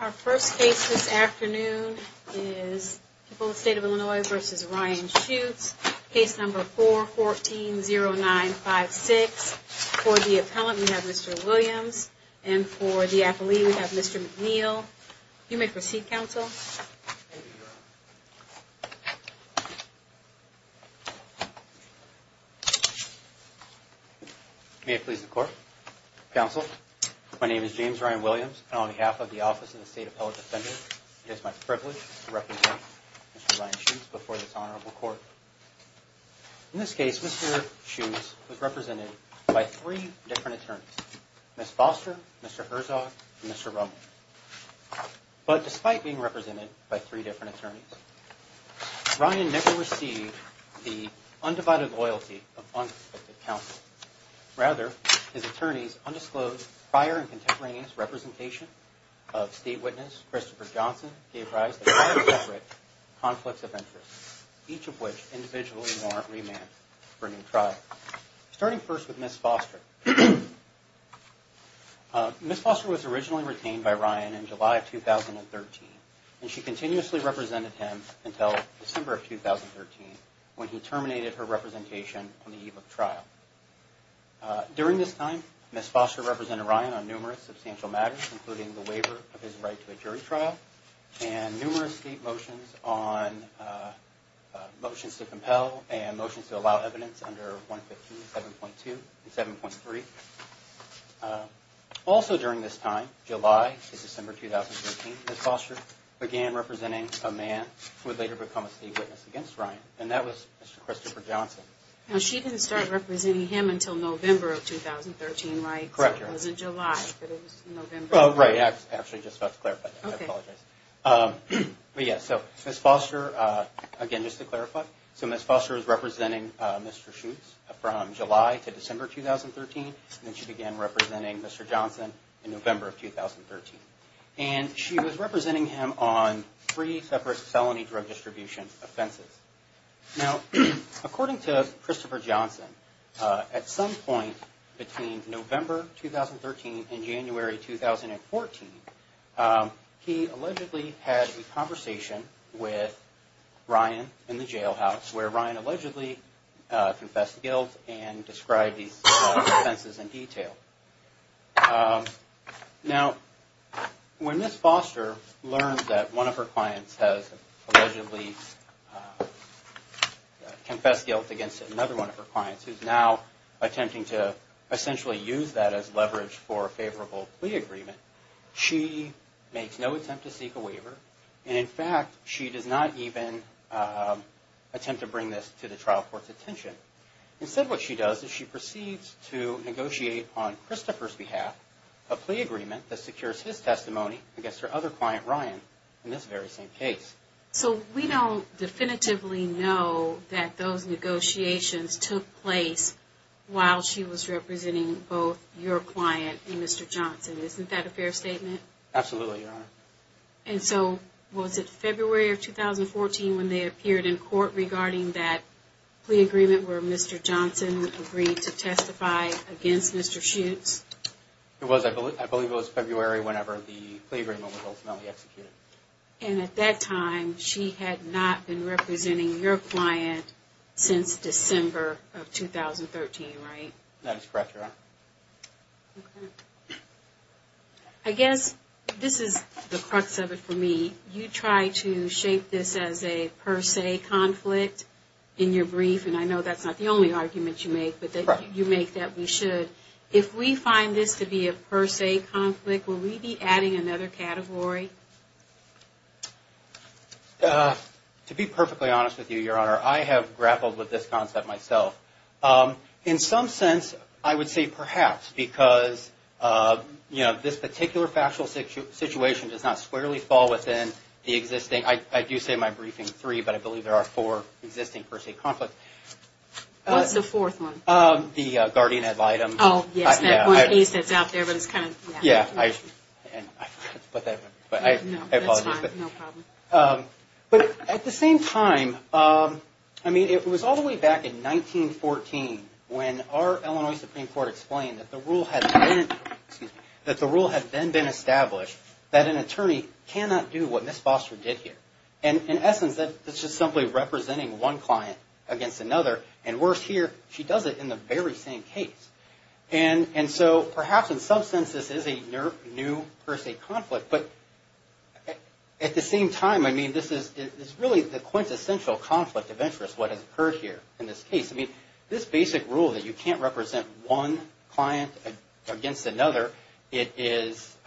Our first case this afternoon is the state of Illinois versus Ryan shoots case number 4140956 for the appellant we have Mr. Williams and for the affilee we have Mr. McNeil, you may proceed counsel. May it please the court counsel. My name is James Ryan Williams on behalf of the office in the state appellate defender. It's my privilege to represent. Before this honorable court. In this case, Mr. Shoes was represented by three different attorneys. Mr. But despite being represented by three different attorneys. Ryan never received the undivided loyalty of counsel. Rather, his attorneys undisclosed prior and contemporaneous representation of state witness Christopher Johnson gave rise to conflicts of interest. Each of which individually more remand. Starting first with Miss Foster. Miss Foster was originally retained by Ryan in July of 2013. And she continuously represented him until December of 2013. When he terminated her representation on the eve of trial. During this time, Miss Foster represented Ryan on numerous substantial matters, including the waiver of his right to a jury trial. And numerous state motions on motions to compel and motions to allow evidence under 115, 7.2, and 7.3. Also during this time, July to December 2013, Miss Foster began representing a man who would later become a state witness against Ryan. And that was Mr. Christopher Johnson. Now she didn't start representing him until November of 2013, right? Correct. It wasn't July, but it was November. Oh, right. I was actually just about to clarify that. I apologize. But yeah, so Miss Foster, again just to clarify. So Miss Foster was representing Mr. Schutz from July to December 2013. And then she began representing Mr. Johnson in November of 2013. And she was representing him on three separate felony drug distribution offenses. Now, according to Christopher Johnson, at some point between November 2013 and January 2014, he allegedly had a conversation with Ryan in the jailhouse where Ryan allegedly confessed guilt and described these offenses in detail. Now, when Miss Foster learns that one of her clients has allegedly confessed guilt against another one of her clients, who's now attempting to essentially use that as leverage for a favorable plea agreement, she makes no attempt to seek a waiver. And in fact, she does not even attempt to bring this to the trial court's attention. Instead, what she does is she proceeds to negotiate on Christopher's behalf a plea agreement that secures his testimony against her other client, Ryan, in this very same case. So we don't definitively know that those negotiations took place while she was representing both your client and Mr. Johnson. Isn't that a fair statement? Absolutely, Your Honor. And so, was it February of 2014 when they appeared in court regarding that plea agreement where Mr. Johnson agreed to testify against Mr. Schutz? It was. I believe it was February whenever the plea agreement was ultimately executed. And at that time, she had not been representing your client since December of 2013, right? That is correct, Your Honor. Okay. I guess this is the crux of it for me. You try to shape this as a per se conflict in your brief, and I know that's not the only argument you make, but you make that we should. If we find this to be a per se conflict, will we be adding another category? To be perfectly honest with you, Your Honor, I have grappled with this concept myself. In some sense, I would say perhaps, because, you know, this particular factual situation does not squarely fall within the existing – I do say my briefing three, but I believe there are four existing per se conflicts. What's the fourth one? The guardian ad litem. Oh, yes, that one case that's out there, but it's kind of – Yeah, I put that – No, that's fine. No problem. But at the same time, I mean, it was all the way back in 1914 when our Illinois Supreme Court explained that the rule had been – excuse me – that the rule had then been established that an attorney cannot do what Ms. Foster did here. And in essence, that's just simply representing one client against another, and worse here, she does it in the very same case. And so perhaps in some sense, this is a new per se conflict, but at the same time, I mean, this is really the quintessential conflict of interest, what has occurred here in this case. I mean, this basic rule that you can't represent one client against another, it is –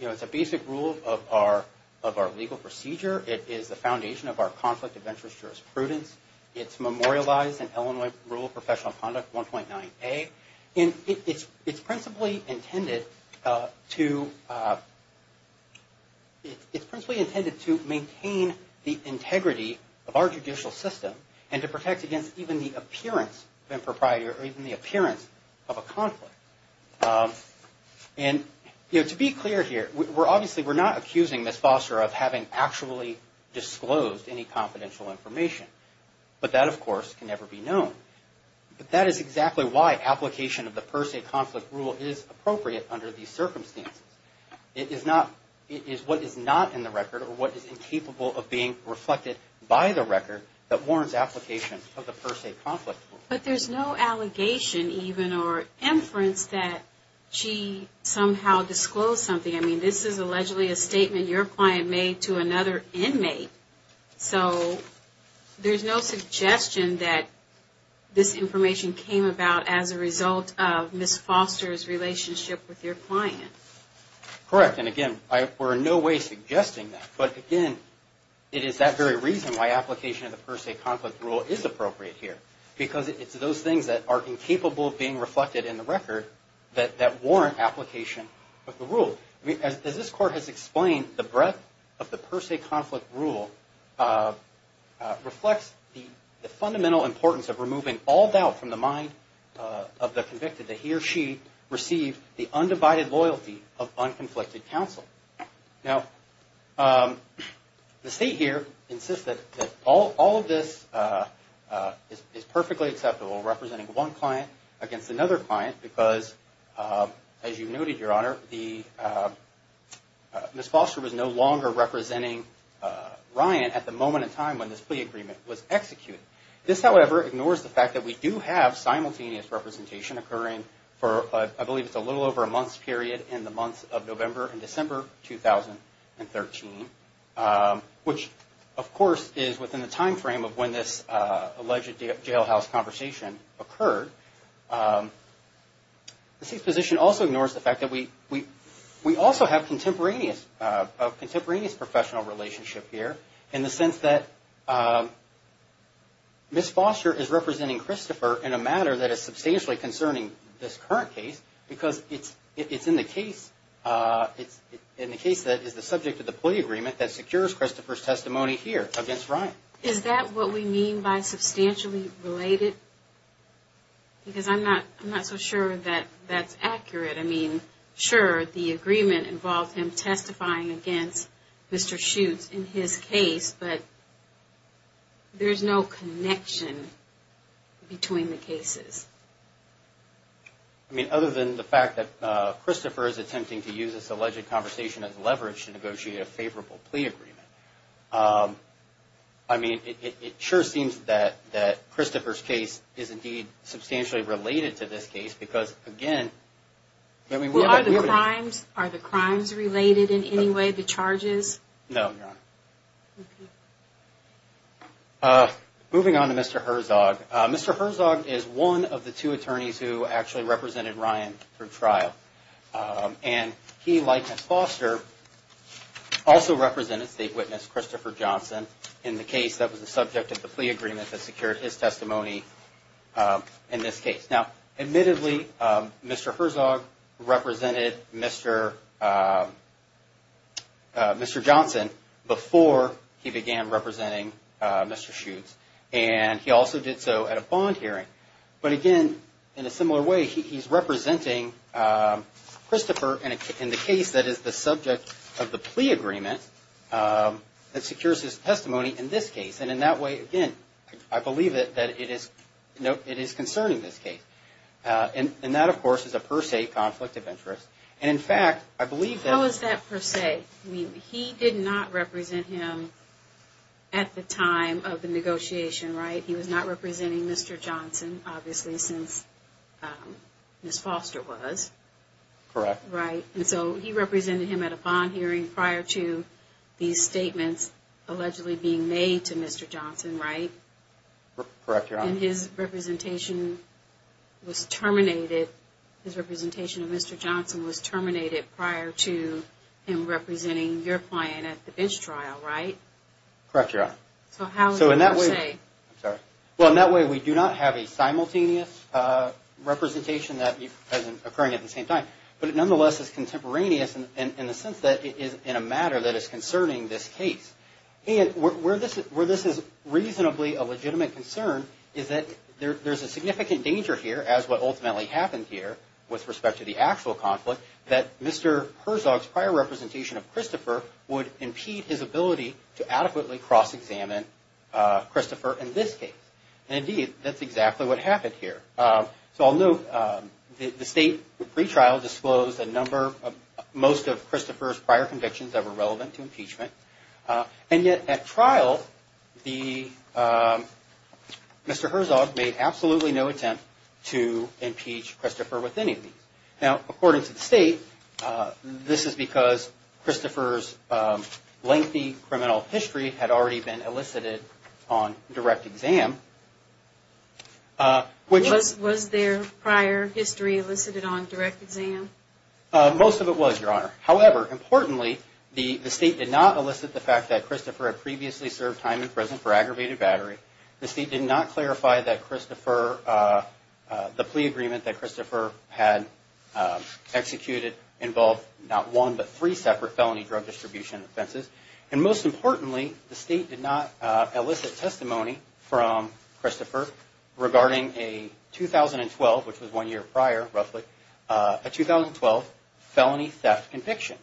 you know, it's a basic rule of our legal procedure. It is the foundation of our conflict of interest jurisprudence. It's memorialized in Illinois Rule of Professional Conduct 1.9a. And it's principally intended to – it's principally intended to maintain the integrity of our judicial system and to protect against even the appearance of impropriety or even the appearance of a conflict. And, you know, to be clear here, we're obviously – we're not accusing Ms. Foster of having actually disclosed any confidential information. But that, of course, can never be known. But that is exactly why application of the per se conflict rule is appropriate under these circumstances. It is not – it is what is not in the record or what is incapable of being reflected by the record that warrants application of the per se conflict rule. But there's no allegation even or inference that she somehow disclosed something. I mean, this is allegedly a statement your client made to another inmate. So there's no suggestion that this information came about as a result of Ms. Foster's relationship with your client. Correct. And, again, we're in no way suggesting that. But, again, it is that very reason why application of the per se conflict rule is appropriate here. Because it's those things that are incapable of being reflected in the record that warrant application of the rule. As this Court has explained, the breadth of the per se conflict rule reflects the fundamental importance of removing all doubt from the mind of the convicted that he or she received the undivided loyalty of unconflicted counsel. Now, the State here insists that all of this is perfectly acceptable, representing one client against another client, because, as you noted, Your Honor, Ms. Foster was no longer representing Ryan at the moment in time when this plea agreement was executed. This, however, ignores the fact that we do have simultaneous representation occurring for, I believe, it's a little over a month's period in the month of November and December 2013, which, of course, is within the timeframe of when this alleged jailhouse conversation occurred. The State's position also ignores the fact that we also have a contemporaneous professional relationship here, in the sense that Ms. Foster is representing Christopher in a matter that is substantially concerning this current case, because it's in the case that is the subject of the plea agreement that secures Christopher's testimony here against Ryan. Is that what we mean by substantially related? Because I'm not so sure that that's accurate. I mean, sure, the agreement involved him testifying against Mr. Schutz in his case, but there's no connection between the cases. I mean, other than the fact that Christopher is attempting to use this alleged conversation as leverage to negotiate a favorable plea agreement, I mean, it sure seems that Christopher's case is, indeed, substantially related to this case, because, again, Well, are the crimes related in any way, the charges? No, Your Honor. Moving on to Mr. Herzog, Mr. Herzog is one of the two attorneys who actually represented Ryan for trial, and he, like Ms. Foster, also represented state witness Christopher Johnson in the case that was the subject of the plea agreement that secured his testimony in this case. Now, admittedly, Mr. Herzog represented Mr. Johnson before he began representing Mr. Schutz, and he also did so at a bond hearing. But, again, in a similar way, he's representing Christopher in the case that is the subject of the plea agreement that secures his testimony in this case. And in that way, again, I believe that it is concerning this case. And that, of course, is a per se conflict of interest. And, in fact, I believe that How is that per se? I mean, he did not represent him at the time of the negotiation, right? He was not representing Mr. Johnson, obviously, since Ms. Foster was. Correct. Right, and so he represented him at a bond hearing prior to these statements allegedly being made to Mr. Johnson, right? Correct, Your Honor. And his representation was terminated, his representation of Mr. Johnson was terminated prior to him representing your client at the bench trial, right? Correct, Your Honor. So how is that per se? I'm sorry. Well, in that way, we do not have a simultaneous representation that is occurring at the same time. But it nonetheless is contemporaneous in the sense that it is in a matter that is concerning this case. And where this is reasonably a legitimate concern is that there's a significant danger here, as what ultimately happened here, with respect to the actual conflict, that Mr. Herzog's prior representation of Christopher would impede his ability to adequately cross-examine Christopher in this case. And, indeed, that's exactly what happened here. So I'll note the state pretrial disclosed a number of most of Christopher's prior convictions that were relevant to impeachment. And yet, at trial, Mr. Herzog made absolutely no attempt to impeach Christopher with any of these. Now, according to the state, this is because Christopher's lengthy criminal history had already been elicited on direct exam. Was their prior history elicited on direct exam? However, importantly, the state did not elicit the fact that Christopher had previously served time in prison for aggravated battery. The state did not clarify that the plea agreement that Christopher had executed involved not one, but three separate felony drug distribution offenses. And, most importantly, the state did not elicit testimony from Christopher regarding a 2012, which was one year prior, roughly, a 2012 felony theft conviction.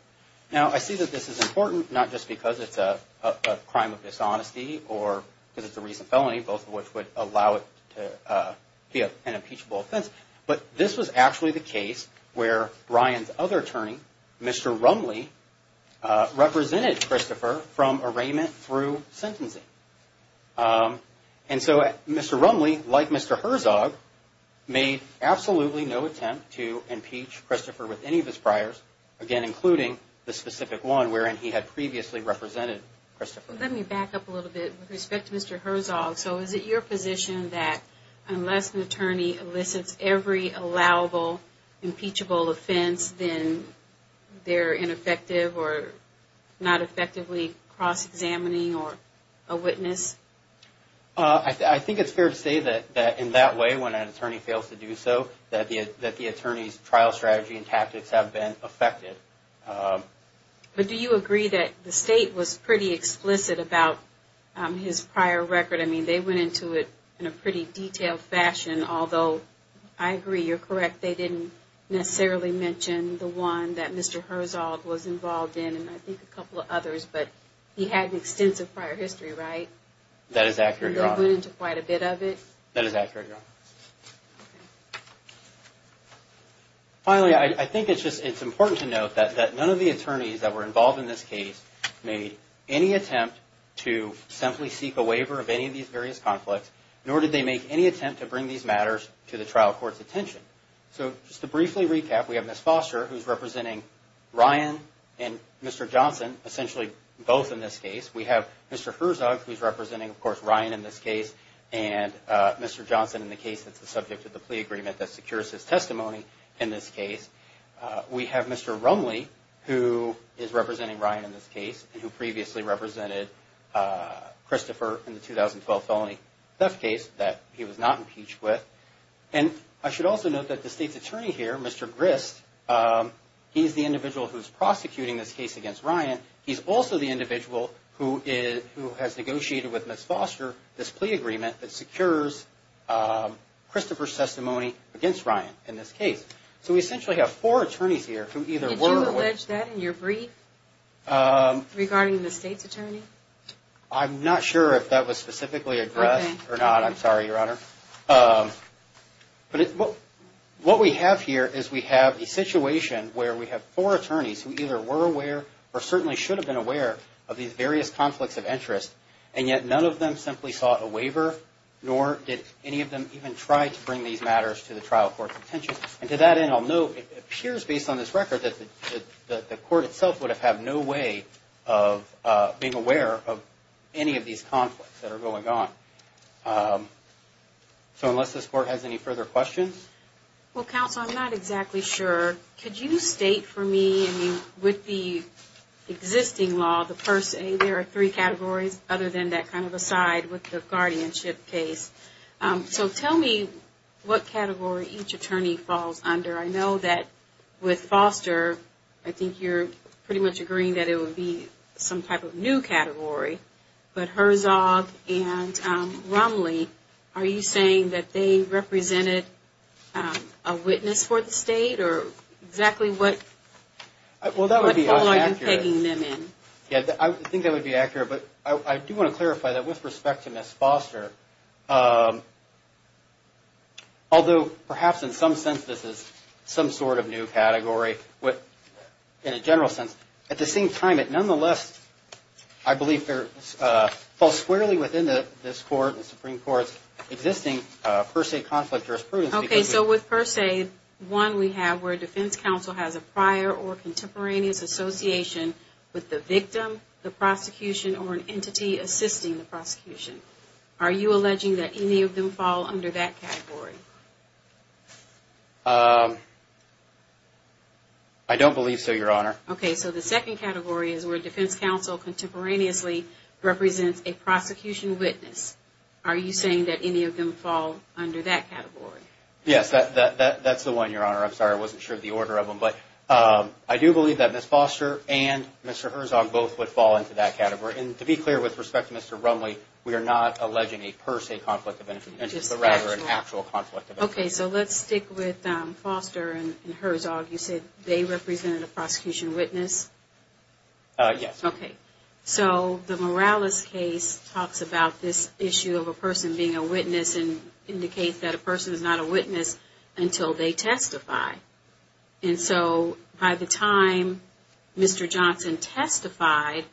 Now, I see that this is important, not just because it's a crime of dishonesty or because it's a recent felony, both of which would allow it to be an impeachable offense, but this was actually the case where Ryan's other attorney, Mr. Rumley, represented Christopher from arraignment through sentencing. And so, Mr. Rumley, like Mr. Herzog, made absolutely no attempt to impeach Christopher with any of his priors, again, including the specific one wherein he had previously represented Christopher. Let me back up a little bit with respect to Mr. Herzog. So, is it your position that unless an attorney elicits every allowable impeachable offense, then they're ineffective or not effectively cross-examining a witness? I think it's fair to say that in that way, when an attorney fails to do so, that the attorney's trial strategy and tactics have been affected. But do you agree that the state was pretty explicit about his prior record? I mean, they went into it in a pretty detailed fashion, although I agree you're correct. They didn't necessarily mention the one that Mr. Herzog was involved in, and I think a couple of others, but he had an extensive prior history, right? That is accurate, Your Honor. And they went into quite a bit of it? That is accurate, Your Honor. Finally, I think it's important to note that none of the attorneys that were involved in this case made any attempt to simply seek a waiver of any of these various conflicts, nor did they make any attempt to bring these matters to the trial court's attention. So, just to briefly recap, we have Ms. Foster, who's representing Ryan and Mr. Johnson, essentially both in this case. We have Mr. Herzog, who's representing, of course, Ryan in this case, and Mr. Johnson in the case that's the subject of the plea agreement that secures his testimony in this case. We have Mr. Rumley, who is representing Ryan in this case, and who previously represented Christopher in the 2012 felony theft case that he was not impeached with. And I should also note that the State's attorney here, Mr. Grist, he's the individual who's prosecuting this case against Ryan. He's also the individual who has negotiated with Ms. Foster this plea agreement that secures Christopher's testimony against Ryan in this case. So, we essentially have four attorneys here who either were or were not. Did you touch that in your brief regarding the State's attorney? I'm not sure if that was specifically addressed or not. I'm sorry, Your Honor. But what we have here is we have a situation where we have four attorneys who either were aware or certainly should have been aware of these various conflicts of interest, and yet none of them simply sought a waiver, nor did any of them even try to bring these matters to the trial court's attention. And to that end, I'll note, it appears, based on this record, that the court itself would have had no way of being aware of any of these conflicts that are going on. So, unless this Court has any further questions? Well, Counsel, I'm not exactly sure. Could you state for me, I mean, with the existing law, the first aid, there are three categories other than that kind of aside with the guardianship case. So tell me what category each attorney falls under. I know that with Foster, I think you're pretty much agreeing that it would be some type of new category. But Herzog and Romley, are you saying that they represented a witness for the State? Or exactly what role are you pegging them in? I think that would be accurate. But I do want to clarify that with respect to Ms. Foster, although perhaps in some sense this is some sort of new category in a general sense, at the same time it nonetheless, I believe, falls squarely within this Court and the Supreme Court's existing first aid conflict jurisprudence. Okay, so with first aid, one we have where defense counsel has a prior or contemporaneous association with the victim, the prosecution, or an entity assisting the prosecution. Are you alleging that any of them fall under that category? I don't believe so, Your Honor. Okay, so the second category is where defense counsel contemporaneously represents a prosecution witness. Are you saying that any of them fall under that category? Yes, that's the one, Your Honor. I'm sorry, I wasn't sure of the order of them. But I do believe that Ms. Foster and Mr. Herzog both would fall into that category. And to be clear, with respect to Mr. Romley, we are not alleging a per se conflict of interest, but rather an actual conflict of interest. Okay, so let's stick with Foster and Herzog. You said they represented a prosecution witness? Yes. So the Morales case talks about this issue of a person being a witness and indicates that a person is not a witness until they testify. And so by the time Mr. Johnson testified,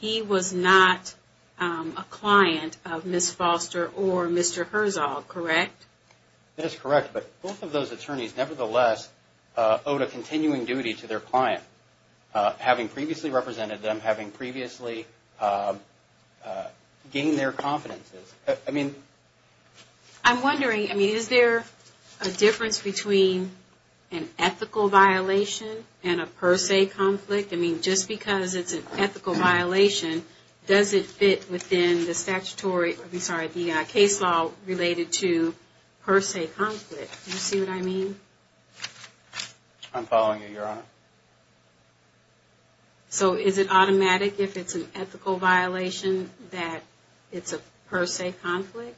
he was not a client of Ms. Foster or Mr. Herzog, correct? That is correct. But both of those attorneys, nevertheless, owed a continuing duty to their client, having previously represented them, having previously gained their confidences. I'm wondering, is there a difference between an ethical violation and a per se conflict? I mean, just because it's an ethical violation, does it fit within the statutory, I'm sorry, the case law related to per se conflict? Do you see what I mean? I'm following you, Your Honor. So is it automatic if it's an ethical violation that it's a per se conflict?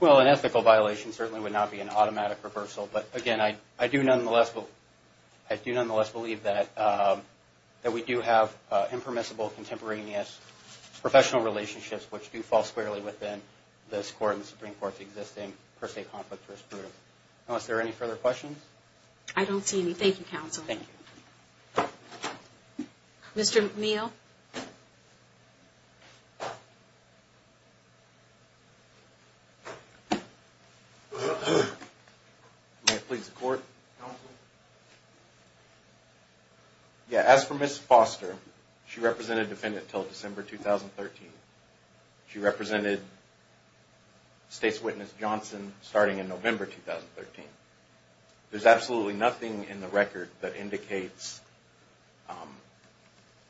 Well, an ethical violation certainly would not be an automatic reversal, but again, I do nonetheless believe that we do have impermissible, contemporaneous, professional relationships which do fall squarely within this Court and the Supreme Court's existing per se conflict jurisprudence. Unless there are any further questions? I don't see any. Thank you, Counsel. Thank you. Mr. McNeil? May it please the Court? Counsel? Yeah, as for Ms. Foster, she represented the defendant until December 2013. She represented State's witness, Johnson, starting in November 2013. There's absolutely nothing in the record that indicates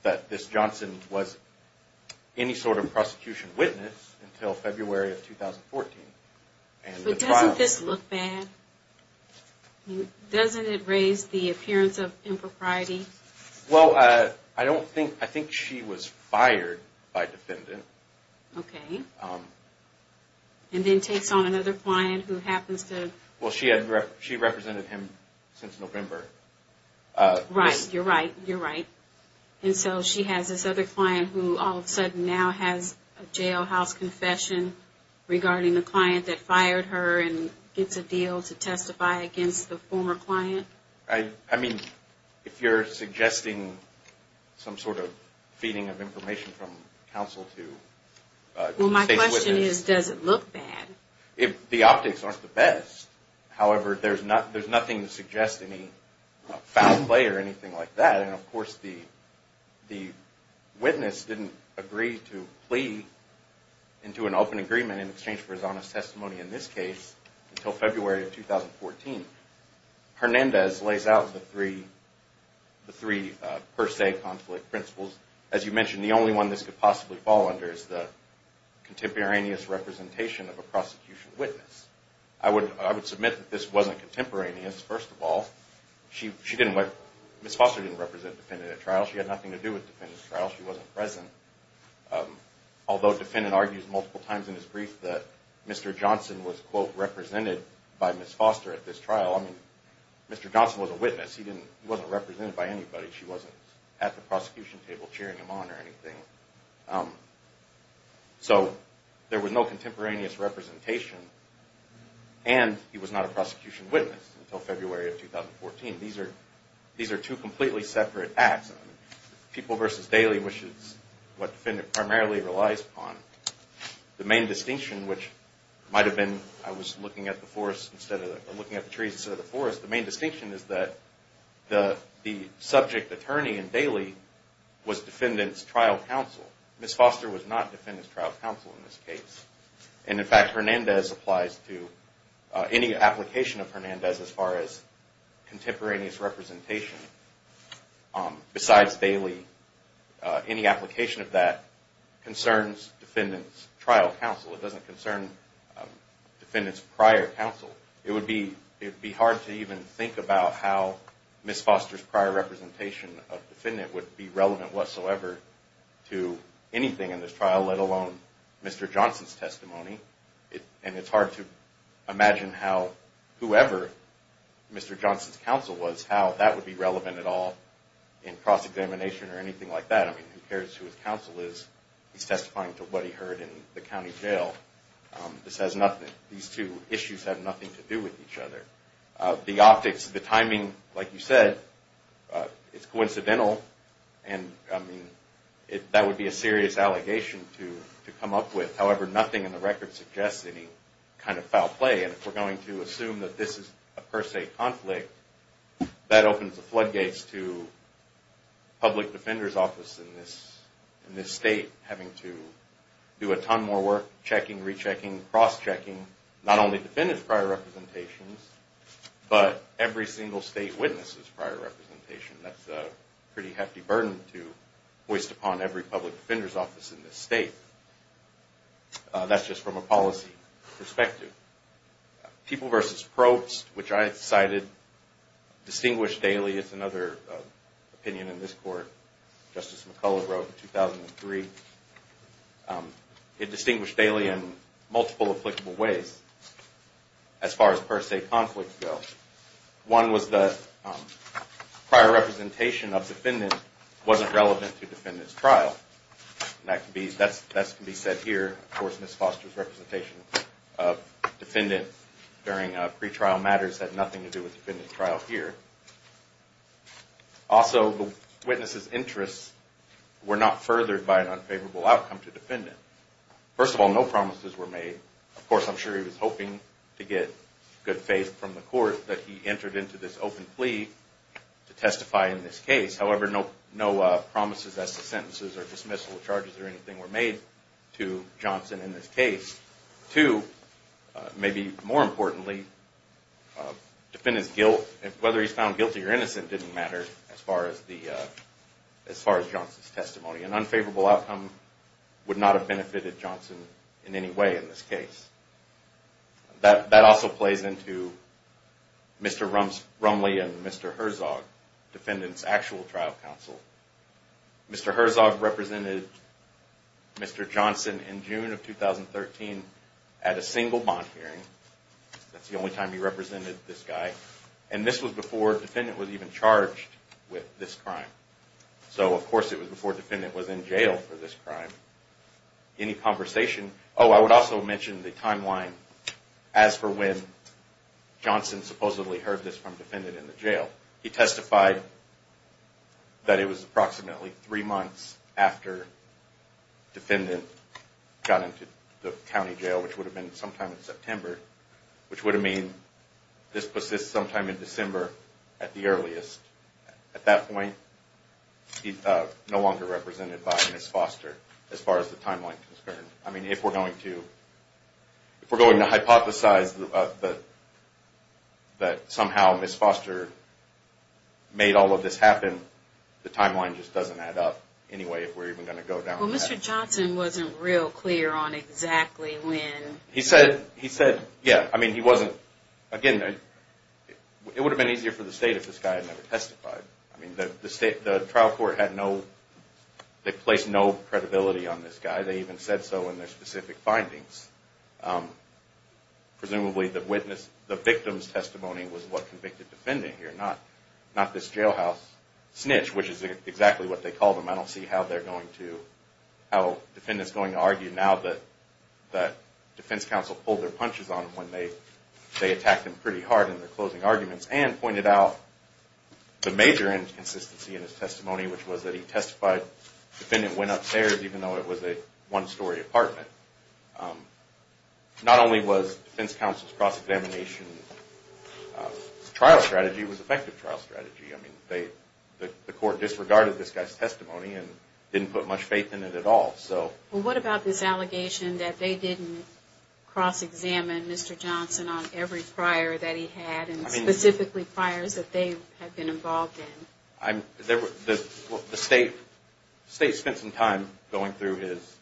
that Ms. Johnson was any sort of prosecution witness until February of 2014. But doesn't this look bad? Doesn't it raise the appearance of impropriety? Well, I don't think, I think she was fired by defendant. Okay. And then takes on another client who happens to... Well, she represented him since November. Right, you're right, you're right. And so she has this other client who all of a sudden now has a jailhouse confession regarding the client that fired her and gets a deal to testify against the former client. I mean, if you're suggesting some sort of feeding of information from counsel to State's witness... Well, my question is, does it look bad? The optics aren't the best. However, there's nothing to suggest any foul play or anything like that. And of course, the witness didn't agree to plea into an open agreement in exchange for his honest testimony in this case until February of 2014. Hernandez lays out the three per se conflict principles. As you mentioned, the only one this could possibly fall under is the contemporaneous representation of a prosecution witness. I would submit that this wasn't contemporaneous, first of all. Ms. Foster didn't represent the defendant at trial. She had nothing to do with the defendant's trial. She wasn't present. Although the defendant argues multiple times in his brief that Mr. Johnson was quote, represented by Ms. Foster at this trial. I mean, Mr. Johnson was a witness. He wasn't represented by anybody. She wasn't at the prosecution table cheering him on or anything. So, there was no contemporaneous representation. And he was not a prosecution witness until February of 2014. These are two completely separate acts. People versus Daly, which is what the defendant primarily relies upon. The main distinction, which might have been, I was looking at the forest instead of, looking at the trees instead of the forest. The main distinction is that the subject attorney in Daly was defendant's trial counsel. Ms. Foster was not defendant's trial counsel in this case. And in fact, Hernandez applies to any application of Hernandez as far as contemporaneous representation. Besides Daly, any application of that concerns defendant's trial counsel. It doesn't concern defendant's prior counsel. It would be hard to even think about how Ms. Foster's prior representation of defendant would be relevant whatsoever to anything in this trial, let alone Mr. Johnson's testimony. And it's hard to imagine how whoever Mr. Johnson's counsel was, how that would be relevant at all in cross-examination or anything like that. I mean, who cares who his counsel is? He's testifying to what he heard in the county jail. This has nothing, these two issues have nothing to do with each other. The optics, the timing, like you said, it's coincidental. And, I mean, that would be a serious allegation to come up with. However, nothing in the record suggests any kind of foul play. And if we're going to assume that this is a per se conflict, that opens the floodgates to public defender's office in this state having to do a ton more work, checking, rechecking, cross-checking, not only defendants' prior representations, but every single state witness's prior representation. That's a pretty hefty burden to hoist upon every public defender's office in this state. That's just from a policy perspective. People versus probes, which I cited, distinguished daily. It's another opinion in this court. Justice McCullough wrote in 2003. It distinguished daily in multiple applicable ways as far as per se conflicts go. One was the prior representation of defendant wasn't relevant to defendant's trial. That can be said here. Of course, Ms. Foster's representation of defendant during pretrial matters had nothing to do with defendant's trial here. Also, the witness's interests were not furthered by an unfavorable outcome to defendant. First of all, no promises were made. Of course, I'm sure he was hoping to get good faith from the court that he entered into this open plea to testify in this case. However, no promises as to sentences or dismissal charges or anything were made to Johnson in this case. Two, maybe more importantly, defendant's guilt, whether he's found guilty or innocent, didn't matter as far as Johnson's testimony. An unfavorable outcome would not have benefited Johnson in any way in this case. That also plays into Mr. Rumley and Mr. Herzog, defendant's actual trial counsel. Mr. Herzog represented Mr. Johnson in June of 2013 at a single bond hearing. That's the only time he represented this guy. And this was before defendant was even charged with this crime. So, of course, it was before defendant was in jail for this crime. Any conversation? Oh, I would also mention the timeline as for when Johnson supposedly heard this from defendant in the jail. He testified that it was approximately three months after defendant got into the county jail, which would have been sometime in September, which would have mean this persists sometime in December at the earliest. At that point, he's no longer represented by Ms. Foster as far as the timeline concerns. I mean, if we're going to hypothesize that somehow Ms. Foster made all of this happen, the timeline just doesn't add up anyway if we're even going to go down that path. Well, Mr. Johnson wasn't real clear on exactly when. He said, yeah, I mean, he wasn't. Again, it would have been easier for the state if this guy had never testified. I mean, the trial court had no, they placed no credibility on this guy. They even said so in their specific findings. Presumably the witness, the victim's testimony was what convicted defendant here, not this jailhouse snitch, which is exactly what they called him. I don't see how defendants going to argue now that defense counsel pulled their punches on him when they attacked him pretty hard in their closing arguments and pointed out the major inconsistency in his testimony, which was that he testified defendant went upstairs even though it was a one-story apartment. Not only was defense counsel's cross-examination trial strategy, it was effective trial strategy. I mean, the court disregarded this guy's testimony and didn't put much faith in it at all. Well, what about this allegation that they didn't cross-examine Mr. Johnson on every prior that he had and specifically priors that they had been involved in? The state spent some time going through his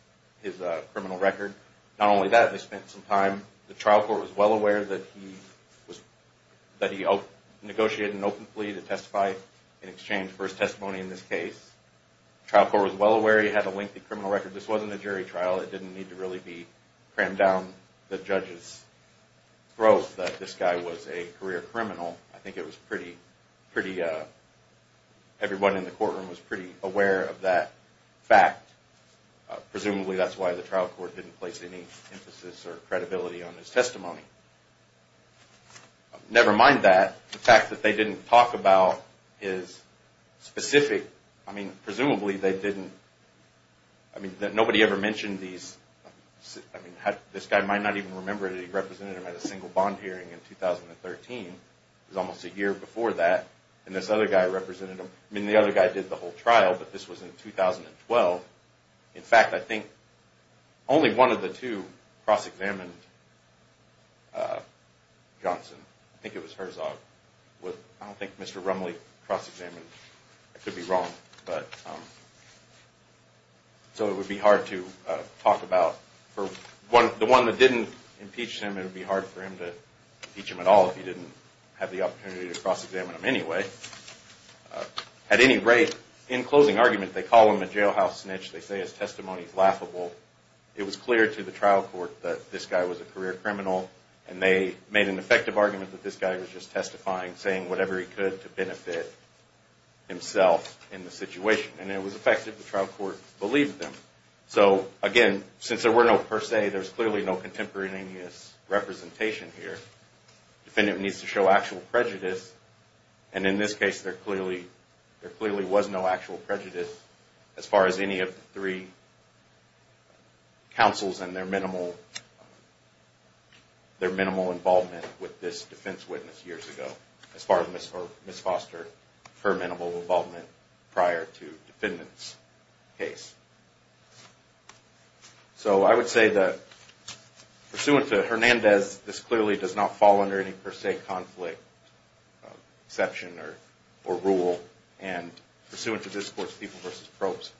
criminal record. Not only that, they spent some time, the trial court was well aware that he negotiated an open plea to testify in exchange for his testimony in this case. The trial court was well aware he had a lengthy criminal record. This wasn't a jury trial. It didn't need to really be crammed down the judge's throat that this guy was a career criminal. I think it was pretty, pretty, everyone in the courtroom was pretty aware of that fact. Presumably that's why the trial court didn't place any emphasis or credibility on his testimony. Never mind that. The fact that they didn't talk about his specific, I mean, presumably they didn't, I mean, nobody ever mentioned these. I mean, this guy might not even remember that he represented him at a single bond hearing in 2013. It was almost a year before that. And this other guy represented him. I mean, the other guy did the whole trial, but this was in 2012. In fact, I think only one of the two cross-examined Johnson. I think it was Herzog. I don't think Mr. Rumley cross-examined. I could be wrong. So it would be hard to talk about. The one that didn't impeach him, it would be hard for him to impeach him at all if he didn't have the opportunity to cross-examine him anyway. At any rate, in closing argument, they call him a jailhouse snitch. They say his testimony is laughable. It was clear to the trial court that this guy was a career criminal. And they made an effective argument that this guy was just testifying, saying whatever he could to benefit himself in the situation. And it was effective. The trial court believed them. So, again, since there were no per se, there's clearly no contemporaneous representation here. The defendant needs to show actual prejudice. And in this case, there clearly was no actual prejudice as far as any of the three counsels and their minimal involvement with this defense witness years ago, as far as Ms. Foster, her minimal involvement prior to the defendant's case. So I would say that pursuant to Hernandez, this clearly does not fall under any per se conflict, exception, or rule. And pursuant to this court's people versus probes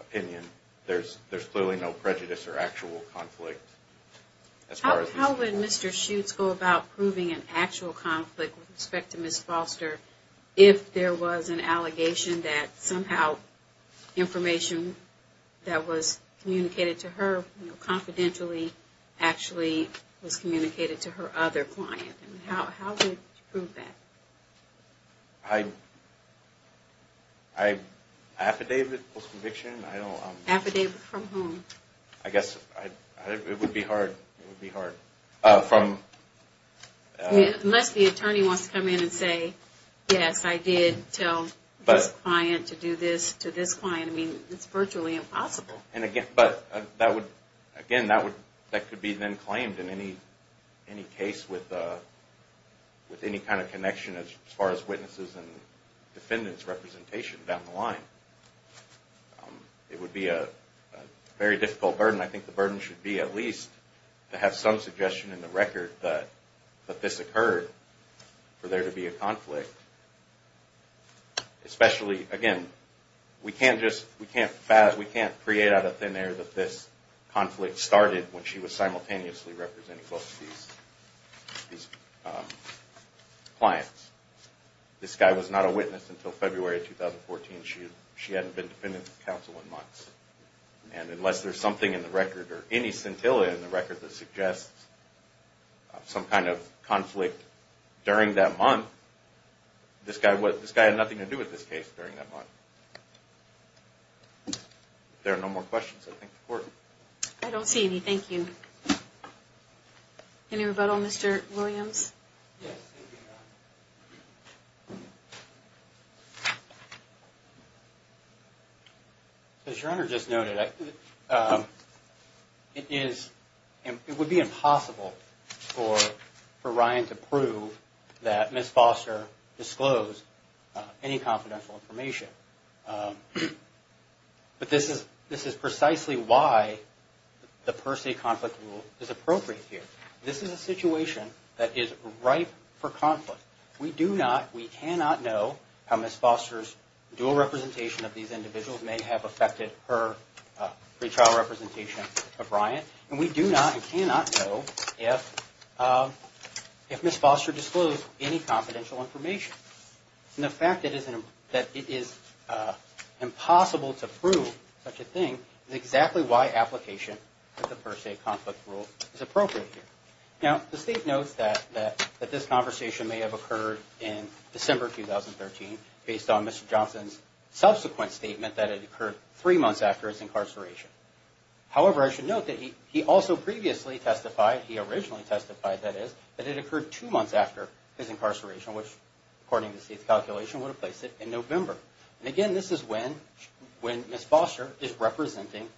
opinion, there's clearly no prejudice or actual conflict as far as Ms. Foster. How would you go about proving an actual conflict with respect to Ms. Foster if there was an allegation that somehow information that was communicated to her confidentially actually was communicated to her other client? How would you prove that? Affidavit, post-conviction? Affidavit from whom? I guess it would be hard. Unless the attorney wants to come in and say, yes, I did tell this client to do this to this client. I mean, it's virtually impossible. But, again, that could be then claimed in any case with any kind of connection as far as witnesses and defendants' representation down the line. It would be a very difficult burden. I think the burden should be at least to have some suggestion in the record that this occurred for there to be a conflict. Especially, again, we can't create out of thin air that this conflict started when she was simultaneously representing both of these clients. This guy was not a witness until February of 2014. She hadn't been dependent of counsel in months. And unless there's something in the record or any scintilla in the record that suggests some kind of conflict during that month, this guy had nothing to do with this case during that month. If there are no more questions, I thank the Court. I don't see any, thank you. Any rebuttal, Mr. Williams? Yes, thank you, Your Honor. As Your Honor just noted, it would be impossible for Ryan to prove that Ms. Foster disclosed any confidential information. But this is precisely why the per se conflict rule is appropriate here. This is a situation that is ripe for conflict. We do not, we cannot know how Ms. Foster's dual representation of these individuals may have affected her pre-trial representation of Ryan. And we do not and cannot know if Ms. Foster disclosed any confidential information. And the fact that it is impossible to prove such a thing is exactly why application of the per se conflict rule is appropriate here. Now, the State notes that this conversation may have occurred in December 2013 based on Mr. Johnson's subsequent statement that it occurred three months after his incarceration. However, I should note that he also previously testified, he originally testified, that is, that it occurred two months after his incarceration, which according to the State's calculation would have placed it in November. And again, this is when Ms. Foster is representing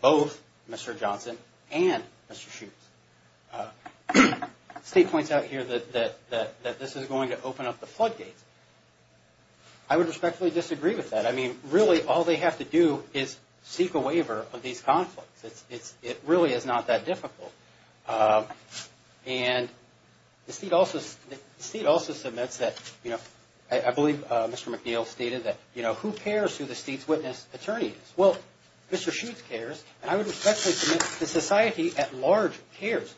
both Mr. Johnson and Mr. Shutes. The State points out here that this is going to open up the floodgates. I would respectfully disagree with that. I mean, really, all they have to do is seek a waiver of these conflicts. It really is not that difficult. And the State also submits that, you know, I believe Mr. McNeil stated that, you know, who cares who the State's witness attorney is. Well, Mr. Shutes cares, and I would respectfully submit the society at large cares.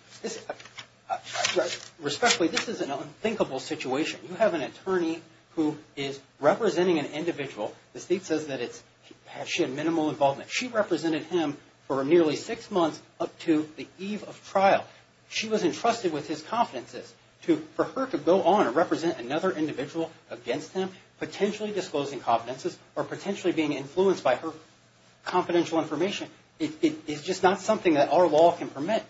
Respectfully, this is an unthinkable situation. You have an attorney who is representing an individual. The State says that she had minimal involvement. She represented him for nearly six months up to the eve of trial. She was entrusted with his confidences. For her to go on and represent another individual against him, potentially disclosing confidences or potentially being influenced by her confidential information, it's just not something that our law can permit.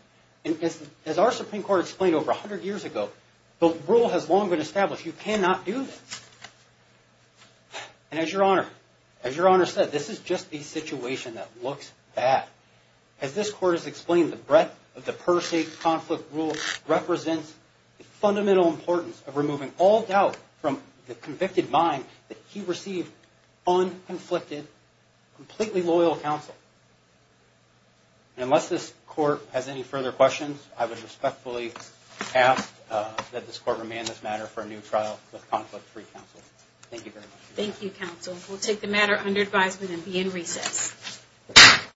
As our Supreme Court explained over 100 years ago, the rule has long been established. You cannot do this. And as Your Honor said, this is just a situation that looks bad. As this Court has explained, the breadth of the per se conflict rule represents the fundamental importance of removing all doubt from the convicted mind that he received unconflicted, completely loyal counsel. And unless this Court has any further questions, I would respectfully ask that this Court remain in this matter for a new trial with conflict-free counsel. Thank you, Your Honor. Thank you, counsel. We'll take the matter under advisement and be in recess.